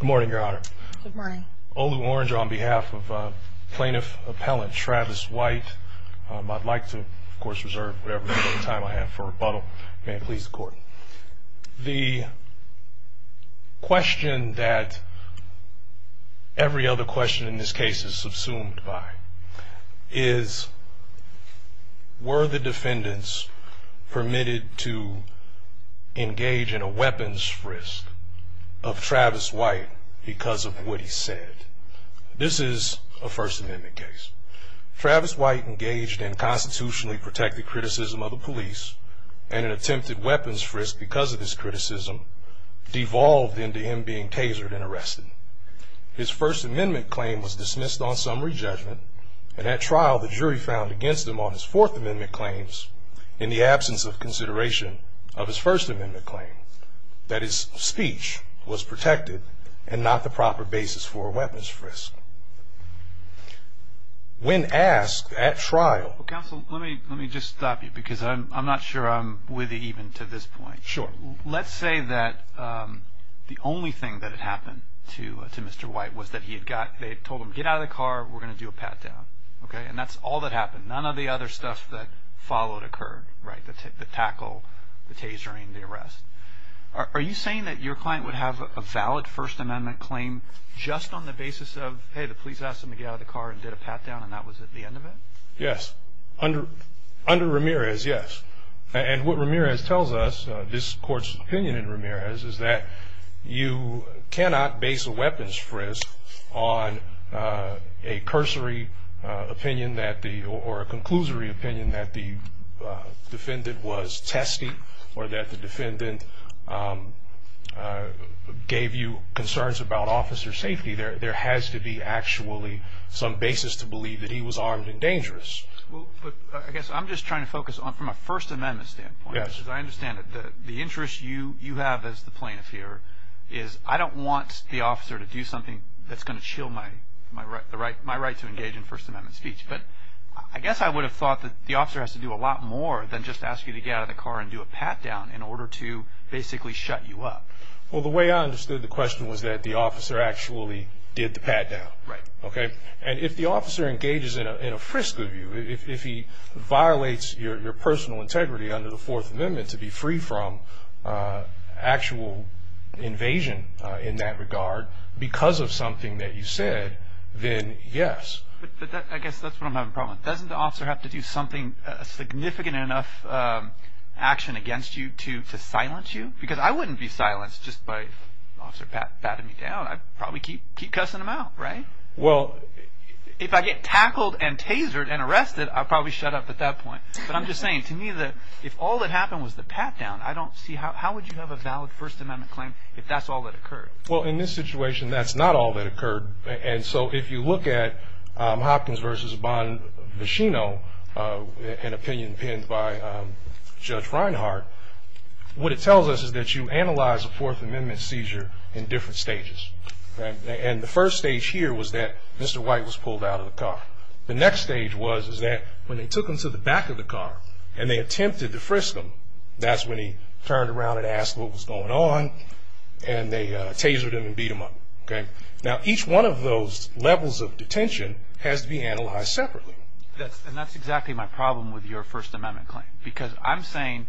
Good morning your honor. Good morning. Olu Orange on behalf of plaintiff appellant Travis White. I'd like to of course reserve whatever time I have for rebuttal. May it please the court. The question that every other question in this case is subsumed by is were the defendants permitted to engage in a Travis White because of what he said. This is a First Amendment case. Travis White engaged in constitutionally protected criticism of the police and attempted weapons frisk because of his criticism devolved into him being tasered and arrested. His First Amendment claim was dismissed on summary judgment and at trial the jury found against him on his Fourth Amendment claims in the absence of consideration of his First Amendment claim that his speech was protected and not the proper basis for weapons frisk. When asked at trial. Counsel let me let me just stop you because I'm not sure I'm with you even to this point. Sure. Let's say that the only thing that had happened to to Mr. White was that he had got they told him get out of the car we're gonna do a pat-down okay and that's all that happened none of the other stuff that followed occurred right the tackle the tasering the arrest. Are you saying that your client would have a valid First Amendment claim just on the basis of hey the police asked him to get out of the car and did a pat-down and that was at the end of it? Yes under under Ramirez yes and what Ramirez tells us this court's opinion in Ramirez is that you cannot base a weapons frisk on a cursory opinion that the or a gave you concerns about officer safety there there has to be actually some basis to believe that he was armed and dangerous. I guess I'm just trying to focus on from a First Amendment standpoint. Yes. I understand that the interest you you have as the plaintiff here is I don't want the officer to do something that's gonna chill my my right the right my right to engage in First Amendment speech but I guess I would have thought that the officer has to do a lot more than just ask you to get out of the car and do a pat-down in order to basically shut you up. Well the way I understood the question was that the officer actually did the pat-down. Right. Okay and if the officer engages in a frisk of you if he violates your personal integrity under the Fourth Amendment to be free from actual invasion in that regard because of something that you said then yes. I guess that's what I'm having a problem with. Doesn't the officer have to do something a significant enough action against you to silence you? Because I wouldn't be silenced just by Officer Pat patting me down. I'd probably keep keep cussing him out right? Well if I get tackled and tasered and arrested I'll probably shut up at that point but I'm just saying to me that if all that happened was the pat-down I don't see how how would you have a valid First Amendment claim if that's all that occurred? Well in this situation that's not all that occurred and so if you look at Hopkins versus Bonbashino an opinion pinned by Judge Reinhart what it tells us is that you analyze a Fourth Amendment seizure in different stages and the first stage here was that Mr. White was pulled out of the car. The next stage was is that when they took him to the back of the car and they attempted to frisk him that's when he turned around and asked what was going on and they tasered him and beat him up. Okay now each one of those levels of detention has to be assessed separately. That's exactly my problem with your First Amendment claim because I'm saying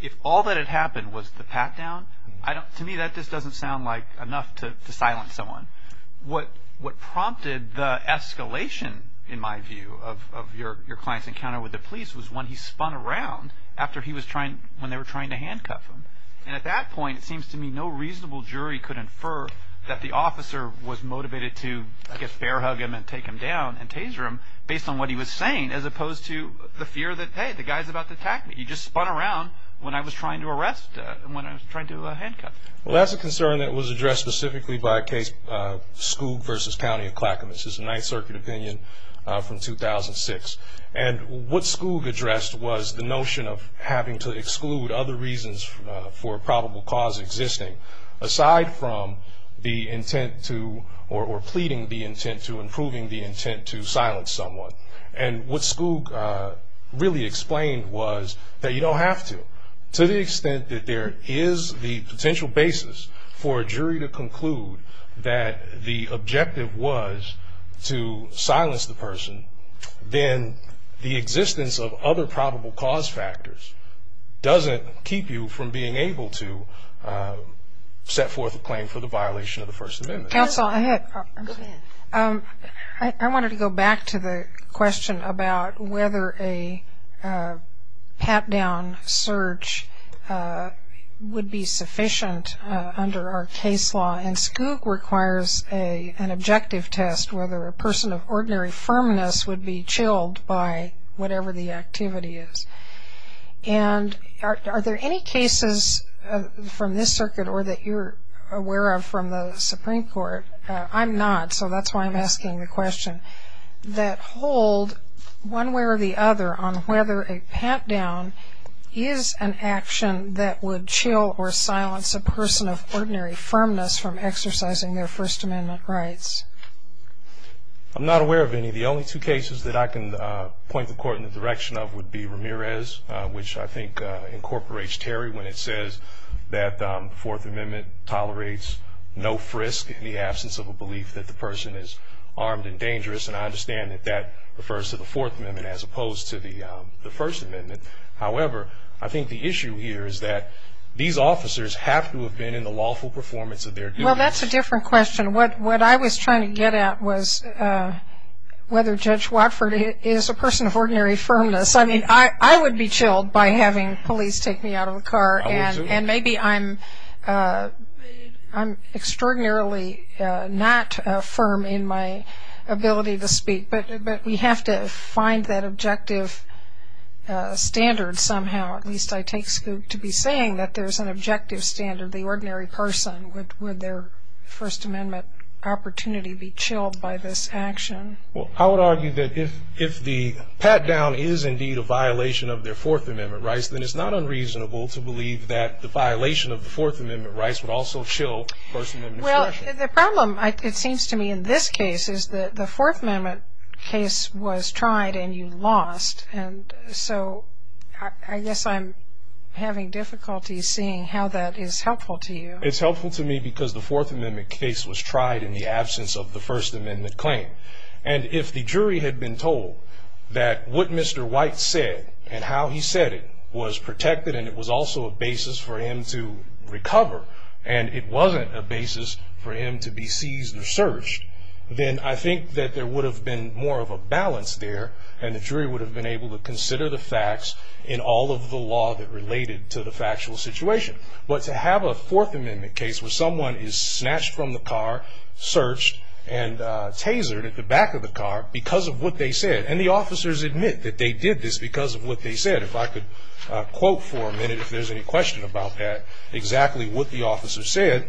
if all that had happened was the pat-down I don't to me that just doesn't sound like enough to silence someone. What what prompted the escalation in my view of your client's encounter with the police was when he spun around after he was trying when they were trying to handcuff him and at that point it seems to me no reasonable jury could infer that the officer was based on what he was saying as opposed to the fear that hey the guy's about to attack me. He just spun around when I was trying to arrest and when I was trying to handcuff him. Well that's a concern that was addressed specifically by a case Skoog versus County of Clackamas. This is a Ninth Circuit opinion from 2006 and what Skoog addressed was the notion of having to exclude other reasons for probable cause existing aside from the intent to or pleading the and what Skoog really explained was that you don't have to. To the extent that there is the potential basis for a jury to conclude that the objective was to silence the person then the existence of other probable cause factors doesn't keep you from being able to set forth a claim for the violation of the First Circuit question about whether a pat-down search would be sufficient under our case law and Skoog requires an objective test whether a person of ordinary firmness would be chilled by whatever the activity is and are there any cases from this circuit or that you're aware of from the Supreme Court? I'm not so that's why I'm asking the question that hold one way or the other on whether a pat-down is an action that would chill or silence a person of ordinary firmness from exercising their First Amendment rights. I'm not aware of any the only two cases that I can point the court in the direction of would be Ramirez which I think incorporates Terry when it says that the Fourth Amendment tolerates no frisk in the absence of a belief that the person is armed and dangerous and I understand that that refers to the Fourth Amendment as opposed to the the First Amendment however I think the issue here is that these officers have to have been in the lawful performance of their duties. Well that's a different question what what I was trying to get at was whether Judge Watford is a person of ordinary firmness I mean I I would be chilled by having police take me out of a car and and maybe I'm I'm extraordinarily not firm in my ability to speak but but we have to find that objective standard somehow at least I take scoop to be saying that there's an objective standard the ordinary person with their First Amendment opportunity be chilled by this action. Well I would argue that if if the pat-down is indeed a violation of their Fourth Amendment rights then it's not unreasonable to believe that the violation of the Fourth Amendment rights would also chill First Amendment expression. Well the problem it seems to me in this case is that the Fourth Amendment case was tried and you lost and so I guess I'm having difficulty seeing how that is helpful to you. It's helpful to me because the Fourth Amendment case was tried in the absence of the First Amendment claim and if the jury had been told that what Mr. White said and how he said it was protected and it was also a basis for him to recover and it wasn't a basis for him to be seized or searched then I think that there would have been more of a balance there and the jury would have been able to consider the facts in all of the law that related to the factual situation but to have a Fourth Amendment case where someone is snatched from the car searched and tasered at the back of the car because of what they said and the officers admit that they did this because of what they said. If I could quote for a minute if there's any question about that exactly what the officer said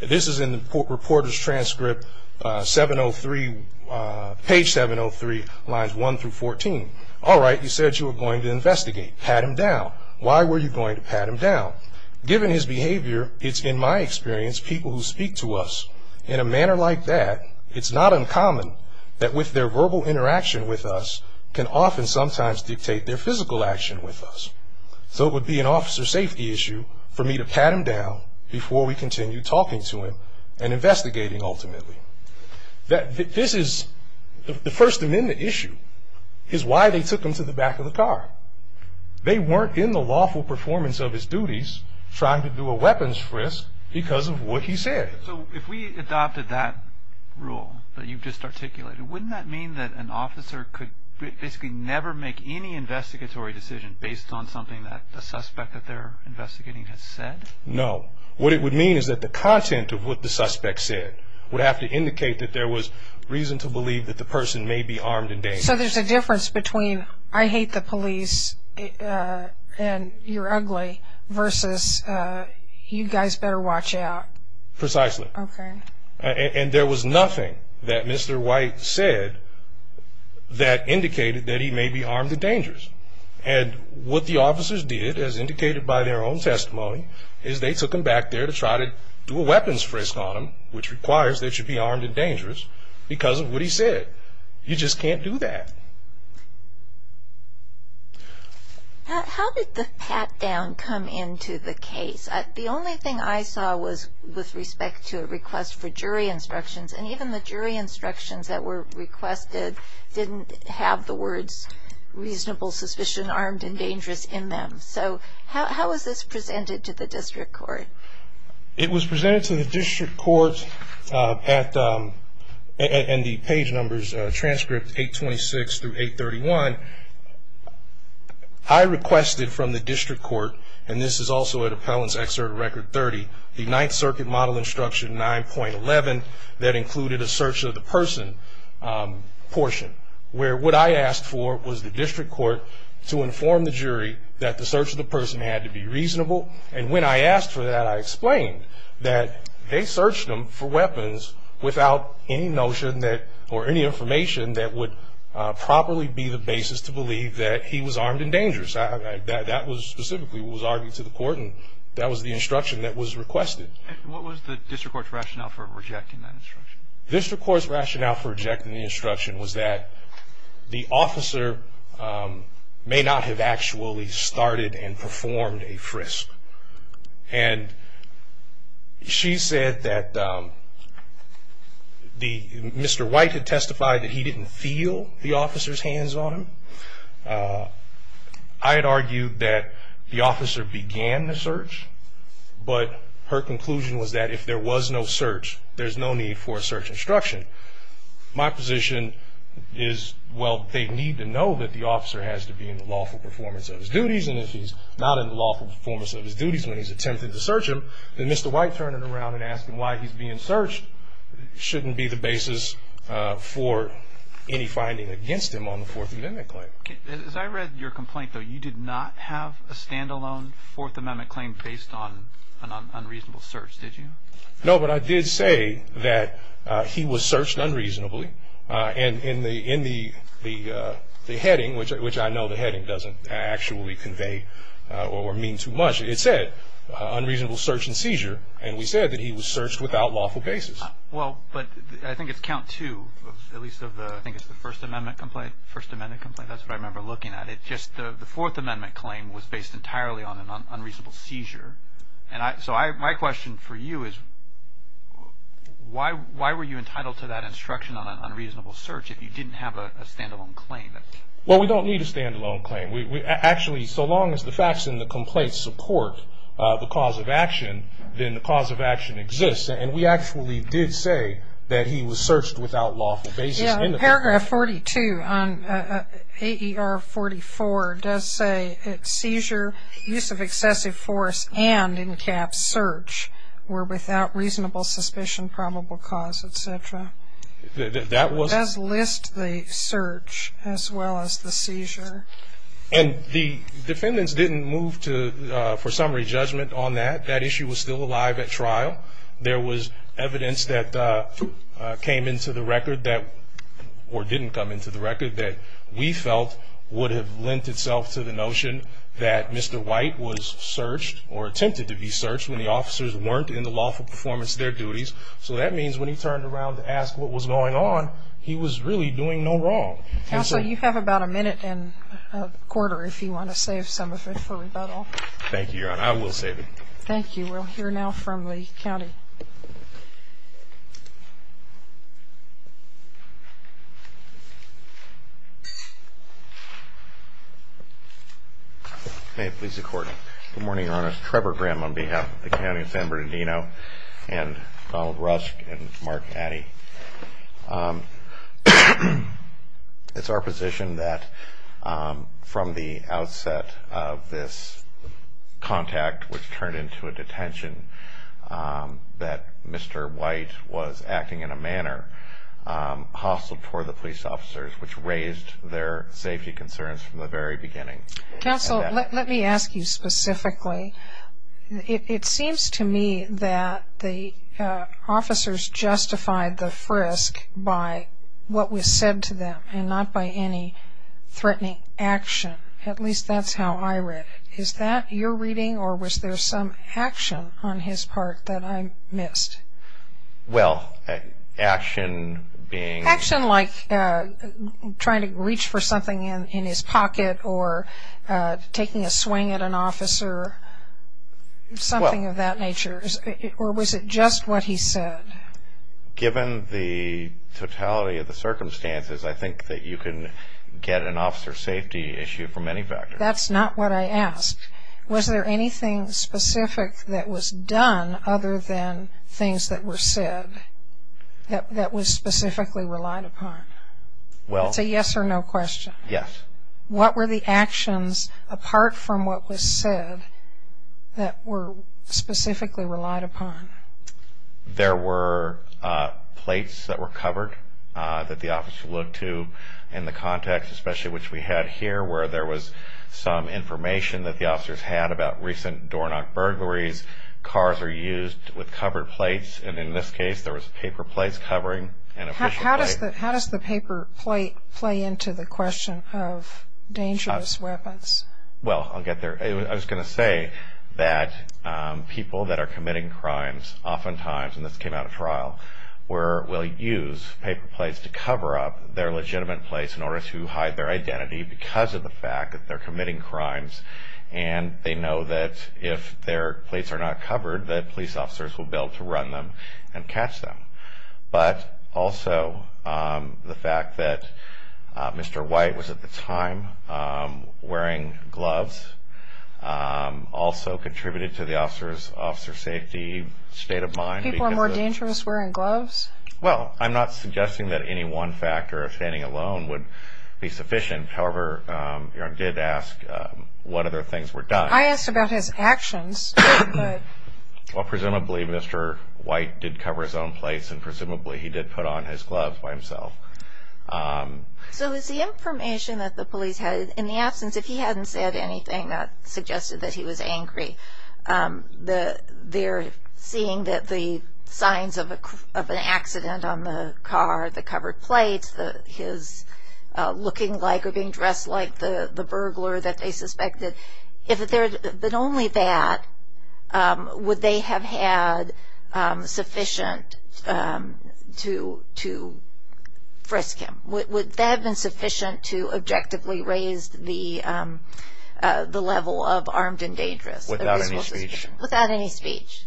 this is in the reporter's transcript 703 page 703 lines 1 through 14 all right you said you were going to investigate pat him down why were you going to pat him down given his behavior it's in my experience people who speak to us in a manner like that it's not uncommon that with their verbal interaction with us can often sometimes dictate their physical action with us so it would be an officer safety issue for me to pat him down before we continue talking to him and investigating ultimately that this is the First Amendment issue is why they took him to the back of the car they weren't in the lawful performance of his duties trying to do a weapons frisk because of what he said so if we adopted that rule that you've just articulated wouldn't that mean that an officer could basically never make any investigatory decision based on something that the suspect that they're investigating has said no what it would mean is that the content of what the suspect said would have to indicate that there was reason to believe that the person may be armed and dangerous so there's a difference between I hate the police and you're precisely and there was nothing that mr. white said that indicated that he may be armed and dangerous and what the officers did as indicated by their own testimony is they took him back there to try to do a weapons frisk on him which requires they should be armed and dangerous because of what he said you just can't do that how did the pat-down come into the case the only thing I saw was with respect to a request for jury instructions and even the jury instructions that were requested didn't have the words reasonable suspicion armed and dangerous in them so how is this presented to the district court it was presented to the district court at the end the page numbers transcript 826 through 831 I requested from the district court and this is also a excerpt record 30 the 9th circuit model instruction 9.11 that included a search of the person portion where what I asked for was the district court to inform the jury that the search of the person had to be reasonable and when I asked for that I explained that they searched him for weapons without any notion that or any information that would properly be the basis to believe that he was armed and dangerous that was specifically was argued to the court and that was the instruction that was requested what was the district court rationale for rejecting that instruction district courts rationale for rejecting the instruction was that the officer may not have actually started and performed a frisk and she said that the mr. white had testified that he didn't feel the I'd argue that the officer began the search but her conclusion was that if there was no search there's no need for a search instruction my position is well they need to know that the officer has to be in the lawful performance of his duties and if he's not in lawful performance of his duties when he's attempted to search him then mr. white turn it around and ask him why he's being searched shouldn't be the basis for any finding against him on the 4th amendment complaint though you did not have a stand-alone fourth amendment claim based on an unreasonable search did you know what I did say that he was searched unreasonably and in the in the the heading which which I know the heading doesn't actually convey or mean too much it said unreasonable search and seizure and we said that he was searched without lawful basis well but I think it's count to at least of the I think it's the first amendment complaint first the fourth amendment claim was based entirely on an unreasonable seizure and I so I my question for you is why why were you entitled to that instruction on an unreasonable search if you didn't have a stand-alone claim that well we don't need a stand-alone claim we actually so long as the facts in the complaints support the cause of action then the cause of action exists and we actually did say that he was searched without lawful basis in the paragraph 42 on AER 44 does say it seizure use of excessive force and in caps search were without reasonable suspicion probable cause etc that was list the search as well as the seizure and the defendants didn't move to for summary judgment on that that issue was still alive at trial there was evidence that came into the that we felt would have lent itself to the notion that Mr. White was searched or attempted to be searched when the officers weren't in the lawful performance their duties so that means when he turned around to ask what was going on he was really doing no wrong so you have about a minute and a quarter if you want to save some of it for rebuttal thank you I will save it thank you we'll hear now from Lee County okay please the court good morning honest Trevor Graham on behalf of the county of San Bernardino and Donald Rusk and Mark Addy it's our position that from the outset of this contact which turned into a detention that mr. white was acting in a manner possible for the police officers which raised their safety concerns from the very beginning let me ask you specifically it seems to me that the officers justified the frisk by what was said to them and not by any threatening action at least that's how I read is that you're reading or was some action on his part that I missed well action being action like trying to reach for something in his pocket or taking a swing at an officer something of that nature or was it just what he said given the totality of the circumstances I think that you can get an officer safety issue from any factor that's not what I asked was there anything specific that was done other than things that were said that was specifically relied upon well it's a yes or no question yes what were the actions apart from what was said that were specifically relied upon there were plates that were covered that the officer looked to in the context especially which we had here where there was some information that the officers had about recent doorknock burglaries cars are used with covered plates and in this case there was paper plates covering and how does that how does the paper plate play into the question of dangerous weapons well I'll get there I was gonna say that people that are committing crimes oftentimes and this came out of trial where we'll use paper plates to cover up their legitimate place in order to hide their identity because of the fact that they're committing crimes and they know that if their plates are not covered that police officers will build to run them and catch them but also the fact that mr. white was at the time wearing gloves also contributed to the officers officer safety state of mind people are more dangerous wearing gloves well I'm not suggesting that any one factor of alone would be sufficient however I did ask what other things were done I asked about his actions well presumably mr. white did cover his own place and presumably he did put on his gloves by himself so is the information that the police had in the absence if he hadn't said anything that suggested that he was angry the they're seeing that the signs of a of an accident on the car the covered plates the his looking like or being dressed like the the burglar that they suspected if there but only that would they have had sufficient to to frisk him what would that have been sufficient to objectively raised the the level of armed and dangerous without any speech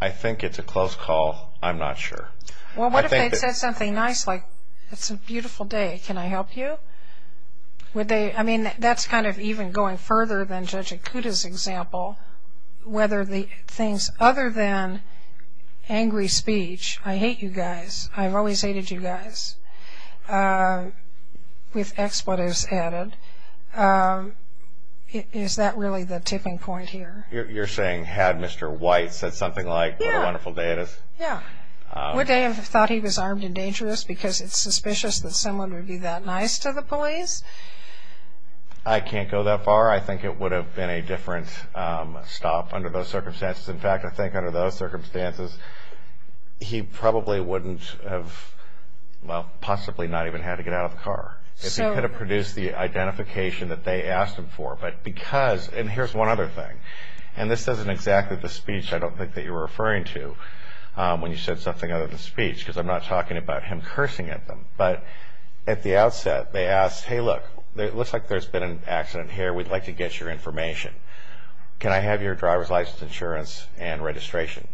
I think it's a close call I'm not sure well what they said something nice like it's a beautiful day can I help you would they I mean that's kind of even going further than judging kudos example whether the things other than angry speech I hate you guys I've always hated you guys with expletives added is that really the tipping point here you're saying had mr. white said something like a wonderful day it is what they thought he was armed and dangerous because it's suspicious that someone would be that nice to the police I can't go that far I think it would have been a different stop under those circumstances in fact I think under those circumstances he probably wouldn't have well possibly not even had to get out of the car to produce the identification that they asked for but because and here's one other thing and this isn't exactly the speech I don't think that you're referring to when you said something out of the speech because I'm not talking about him cursing at them but at the outset they asked hey look it looks like there's been an accident here we'd like to get your information can I have your driver's license insurance and registration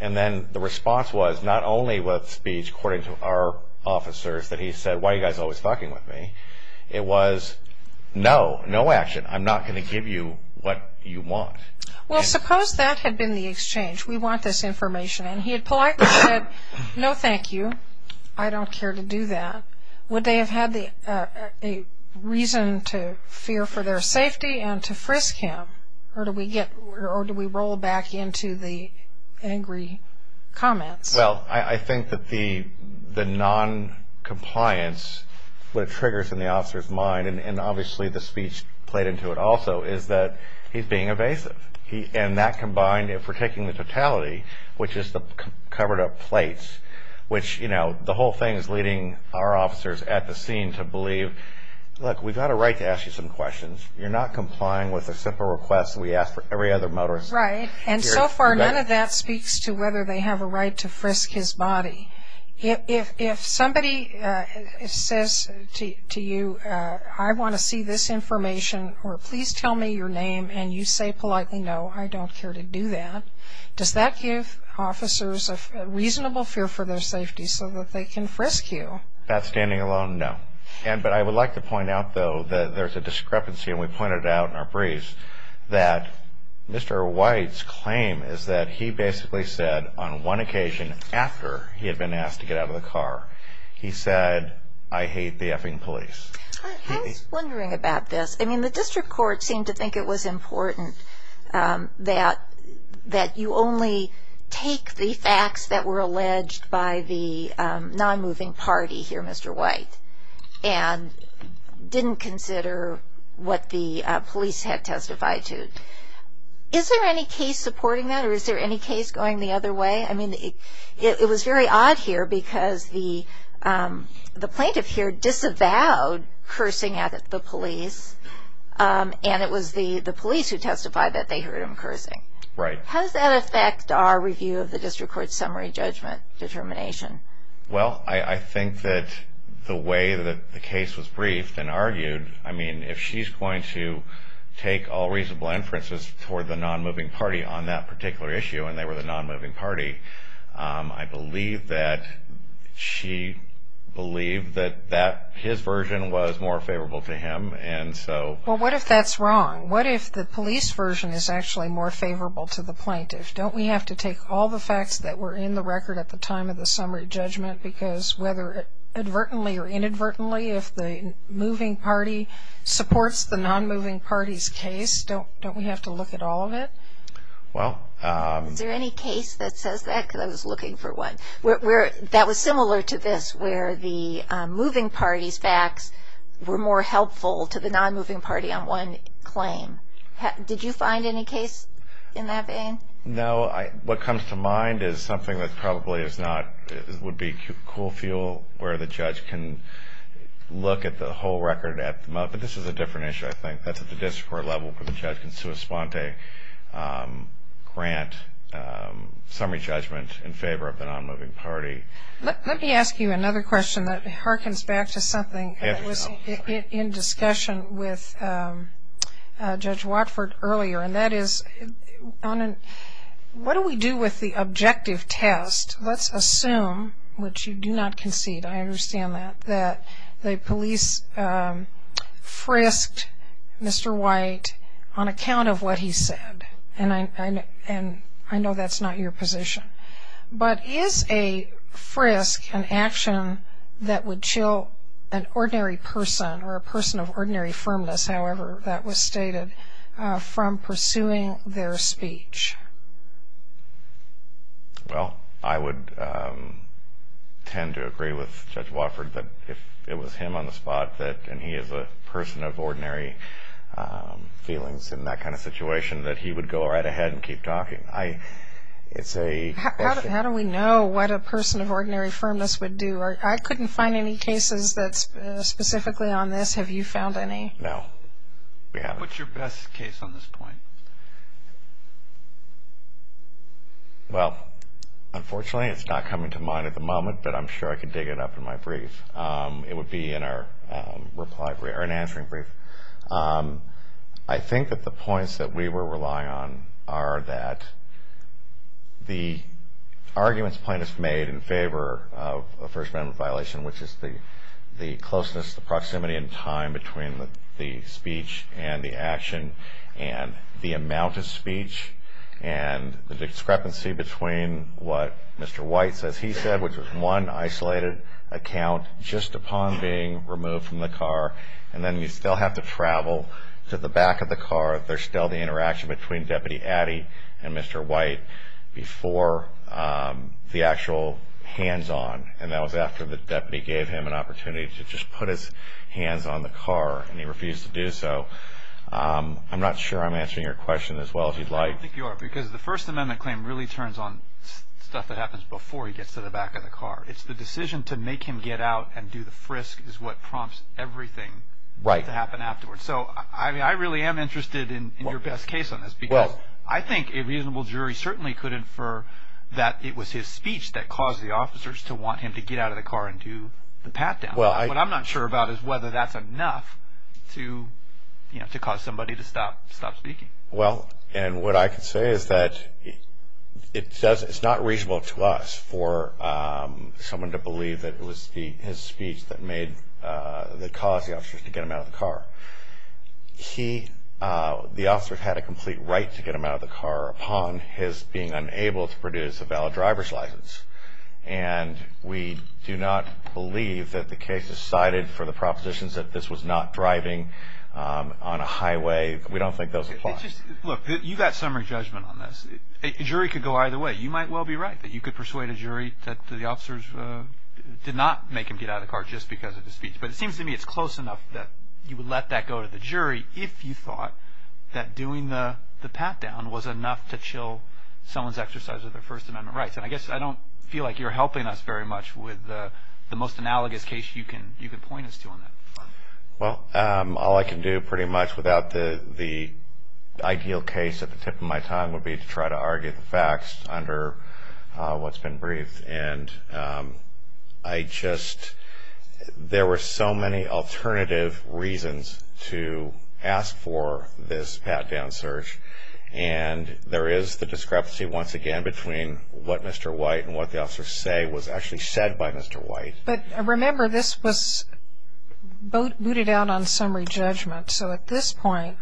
and then the response was not only with speech according to our officers that he said why you guys always talking with me it was no no action I'm not going to give you what you want well suppose that had been the exchange we want this information and he had politely said no thank you I don't care to do that would they have had the reason to fear for their safety and to frisk him or do we get or do we roll back into the angry comments well I think that the the non-compliance what triggers in the officers mind and obviously the speech played into it also is that he's being evasive he and that combined if we're taking the totality which is the covered up plates which you know the whole thing is leading our officers at the scene to believe look we've got a right to ask you some questions you're not complying with a simple request we asked for every other motorist right and so far none of that speaks to whether they have a right to frisk his body if somebody says to you I want to see this information or please tell me your name and you say politely no I don't care to do that does that give officers a reasonable fear for their safety so that they can frisk you that's standing alone no and but I would like to point out though that there's a white's claim is that he basically said on one occasion after he had been asked to get out of the car he said I hate the effing police wondering about this I mean the district court seemed to think it was important that that you only take the facts that were alleged by the non-moving party here mr. white and didn't consider what the police had testified to is there any case supporting that or is there any case going the other way I mean it was very odd here because the the plaintiff here disavowed cursing at the police and it was the the police who testified that they heard him cursing right how does that affect our review of the district court summary judgment determination well I I think that the way that the case was briefed and argued I mean if she's going to take all reasonable inferences toward the non-moving party on that particular issue and they were the non-moving party I believe that she believed that that his version was more favorable to him and so what if that's wrong what if the police version is actually more favorable to the plaintiff don't we have to take all the facts that were in the record at the time of the summary judgment because whether it advertently or inadvertently if the moving party supports the non-moving parties case don't don't we have to look at all of it well there any case that says that because I was looking for one where that was similar to this where the moving parties facts were more helpful to the non-moving party on one claim did you find any case in that vein no I what comes to mind is something that probably is not it would be cool feel where the judge can look at the whole record at the moment this is a different issue I think that's at the district court level for the judge and sua sponte grant summary judgment in favor of the non-moving party let me ask you another question that harkens back to something in discussion with judge Watford earlier and that is on what do we do with the objective test let's assume which you do not concede I understand that that the police frisked mr. white on account of what he said and I and I know that's not your position but is a frisk an action that would chill an ordinary person or a person of ordinary firmness however that was stated from pursuing their speech well I would tend to agree with judge Watford but it was him on the spot that he is a person of ordinary feelings in that kind of situation that he would go right ahead and keep talking I it's a how do we know what a person of ordinary firmness would do I couldn't find any specifically on this have you found any well unfortunately it's not coming to mind at the moment but I'm sure I could dig it up in my brief it would be in our reply we are an answering brief I think that the points that we were relying on are that the arguments plaintiffs made in favor of a first-member violation which is the the closeness the proximity in time between the speech and the action and the amount of speech and the discrepancy between what mr. white says he said which was one isolated account just upon being removed from the car and then you still have to travel to the back of the car if there's still the interaction between deputy Addy and mr. white before the actual hands-on and that was after the deputy gave him an opportunity to just put his hands on the car and he refused to do so I'm not sure I'm answering your question as well as you'd like because the first amendment claim really turns on stuff that happens before he gets to the back of the car it's the decision to make him get out and do the frisk is what prompts everything right to happen afterwards so I really am interested in your best case I think a reasonable jury certainly could infer that it was his speech that caused the officers to want him to get out of the car and do the pat-down well I'm not sure about is whether that's enough to you know to cause somebody to stop stop speaking well and what I could say is that it says it's not reasonable to us for someone to believe that it was the his speech that made the cause the car he the officers had a complete right to get him out of the car upon his being unable to produce a valid driver's license and we do not believe that the case is cited for the propositions that this was not driving on a highway we don't think those look you got summary judgment on this jury could go either way you might well be right that you could persuade a jury that the officers did not make him get out of the car just because of the speech but it seems to me it's close enough that you would let that go to the jury if you thought that doing the pat-down was enough to chill someone's exercise of the First Amendment rights and I guess I don't feel like you're helping us very much with the most analogous case you can you can point us to on that well all I can do pretty much without the the ideal case at the tip of my tongue would be to try to argue the facts under what's been briefed and I just there were so many alternative reasons to ask for this pat-down search and there is the discrepancy once again between what mr. white and what the officers say was actually said by mr. white but I remember this was both booted out on summary judgment so at this point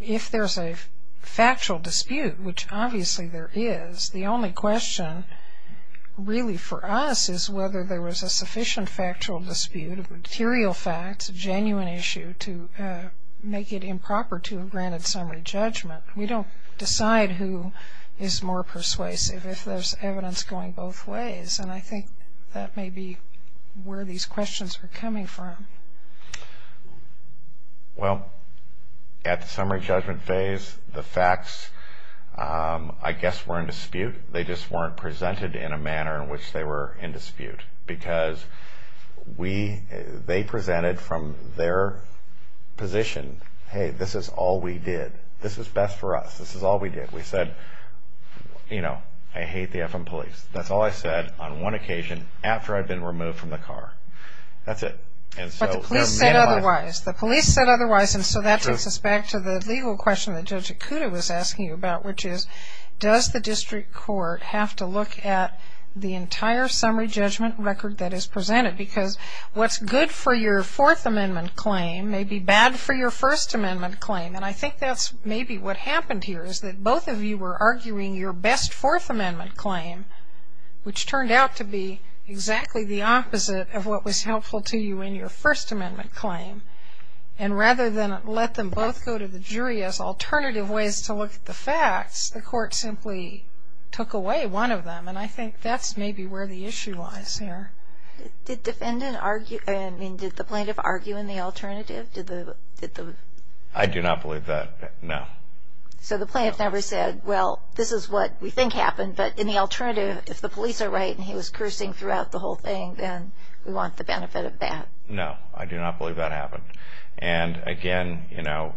if there's a factual dispute which obviously there is the only question really for us is whether there was a genuine issue to make it improper to have granted summary judgment we don't decide who is more persuasive if there's evidence going both ways and I think that may be where these questions are coming from well at the summary judgment phase the facts I guess were in dispute they just weren't presented in a because we they presented from their position hey this is all we did this is best for us this is all we did we said you know I hate the FM police that's all I said on one occasion after I've been removed from the car that's it and so please say otherwise the police said otherwise and so that takes us back to the legal question that judge Akuta was asking you about which is does the presented because what's good for your fourth amendment claim may be bad for your First Amendment claim and I think that's maybe what happened here is that both of you were arguing your best Fourth Amendment claim which turned out to be exactly the opposite of what was helpful to you in your First Amendment claim and rather than let them both go to the jury as alternative ways to look at the facts the court simply took away one of them and I think that's maybe where the issue lies here did defendant argue I mean did the plaintiff argue in the alternative to the I do not believe that no so the plaintiff never said well this is what we think happened but in the alternative if the police are right and he was cursing throughout the whole thing then we want the benefit of that no I do not believe that happened and again you know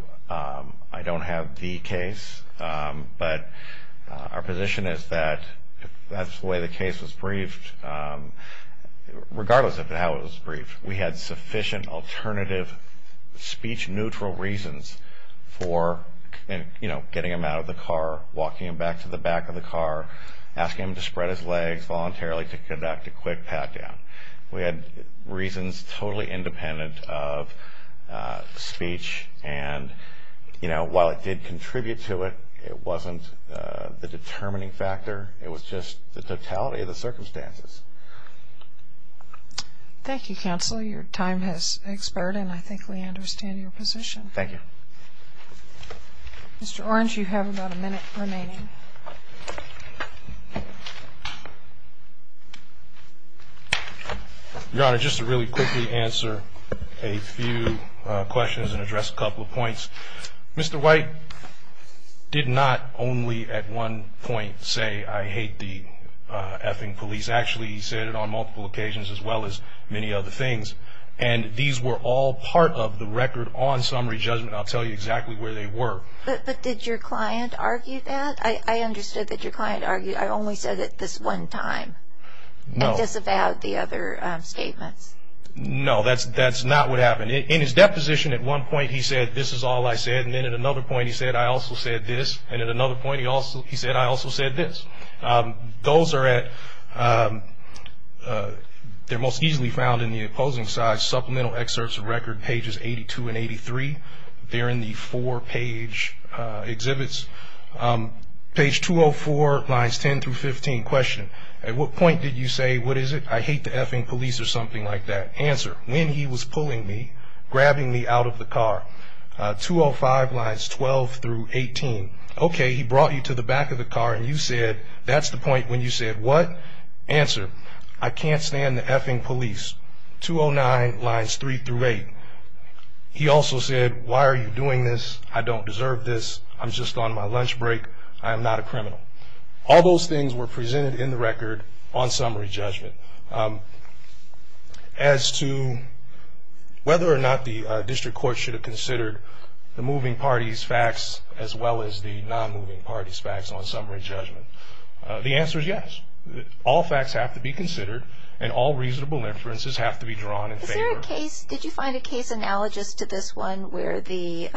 I don't have the case but our position is that that's the way the case was briefed regardless of how it was briefed we had sufficient alternative speech-neutral reasons for you know getting him out of the car walking him back to the back of the car asking him to spread his legs voluntarily to conduct a quick pat-down we had reasons totally independent of speech and you know while it did contribute to it it wasn't the determining factor it was just the totality of the circumstances thank you counsel your time has expired and I think we understand your position thank you mr. orange you have about a minute remaining your honor just to really quickly answer a few questions and did not only at one point say I hate the effing police actually he said it on multiple occasions as well as many other things and these were all part of the record on summary judgment I'll tell you exactly where they were but did your client argue that I understood that your client argued I only said it this one time no it's about the other statements no that's that's not what happened in his deposition at one point he said this is all I said and then at another point he said I also said this and at another point he also he said I also said this those are at their most easily found in the opposing side supplemental excerpts of record pages 82 and 83 they're in the four page exhibits page 204 lines 10 through 15 question at what point did you say what is it I hate the effing police or something like that answer when he was pulling me grabbing me out of the car 205 lines 12 through 18 okay he brought you to the back of the car and you said that's the point when you said what answer I can't stand the effing police 209 lines 3 through 8 he also said why are you doing this I don't deserve this I'm just on my lunch break I'm not a criminal all those things were presented in the record on summary judgment as to whether or not the district court should have considered the moving parties facts as well as the non-moving parties facts on summary judgment the answer is yes all facts have to be considered and all reasonable inferences have to be drawn in case did you find a case analogous to this one where the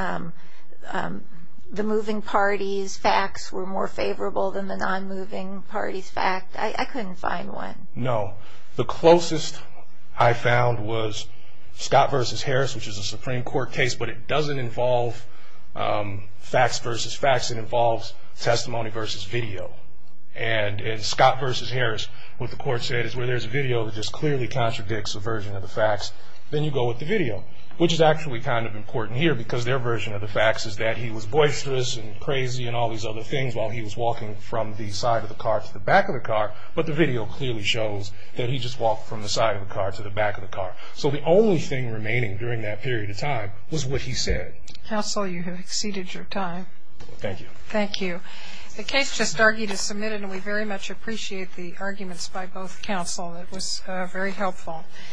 the moving parties facts were more favorable than the non-moving parties fact I couldn't find one no the court case but it doesn't involve facts versus facts it involves testimony versus video and in Scott versus Harris what the court said is where there's a video that just clearly contradicts a version of the facts then you go with the video which is actually kind of important here because their version of the facts is that he was boisterous and crazy and all these other things while he was walking from the side of the car to the back of the car but the video clearly shows that he just walked from the side of the car to the back of the was what he said counsel you have exceeded your time thank you thank you the case just argued is submitted and we very much appreciate the arguments by both counsel it was very helpful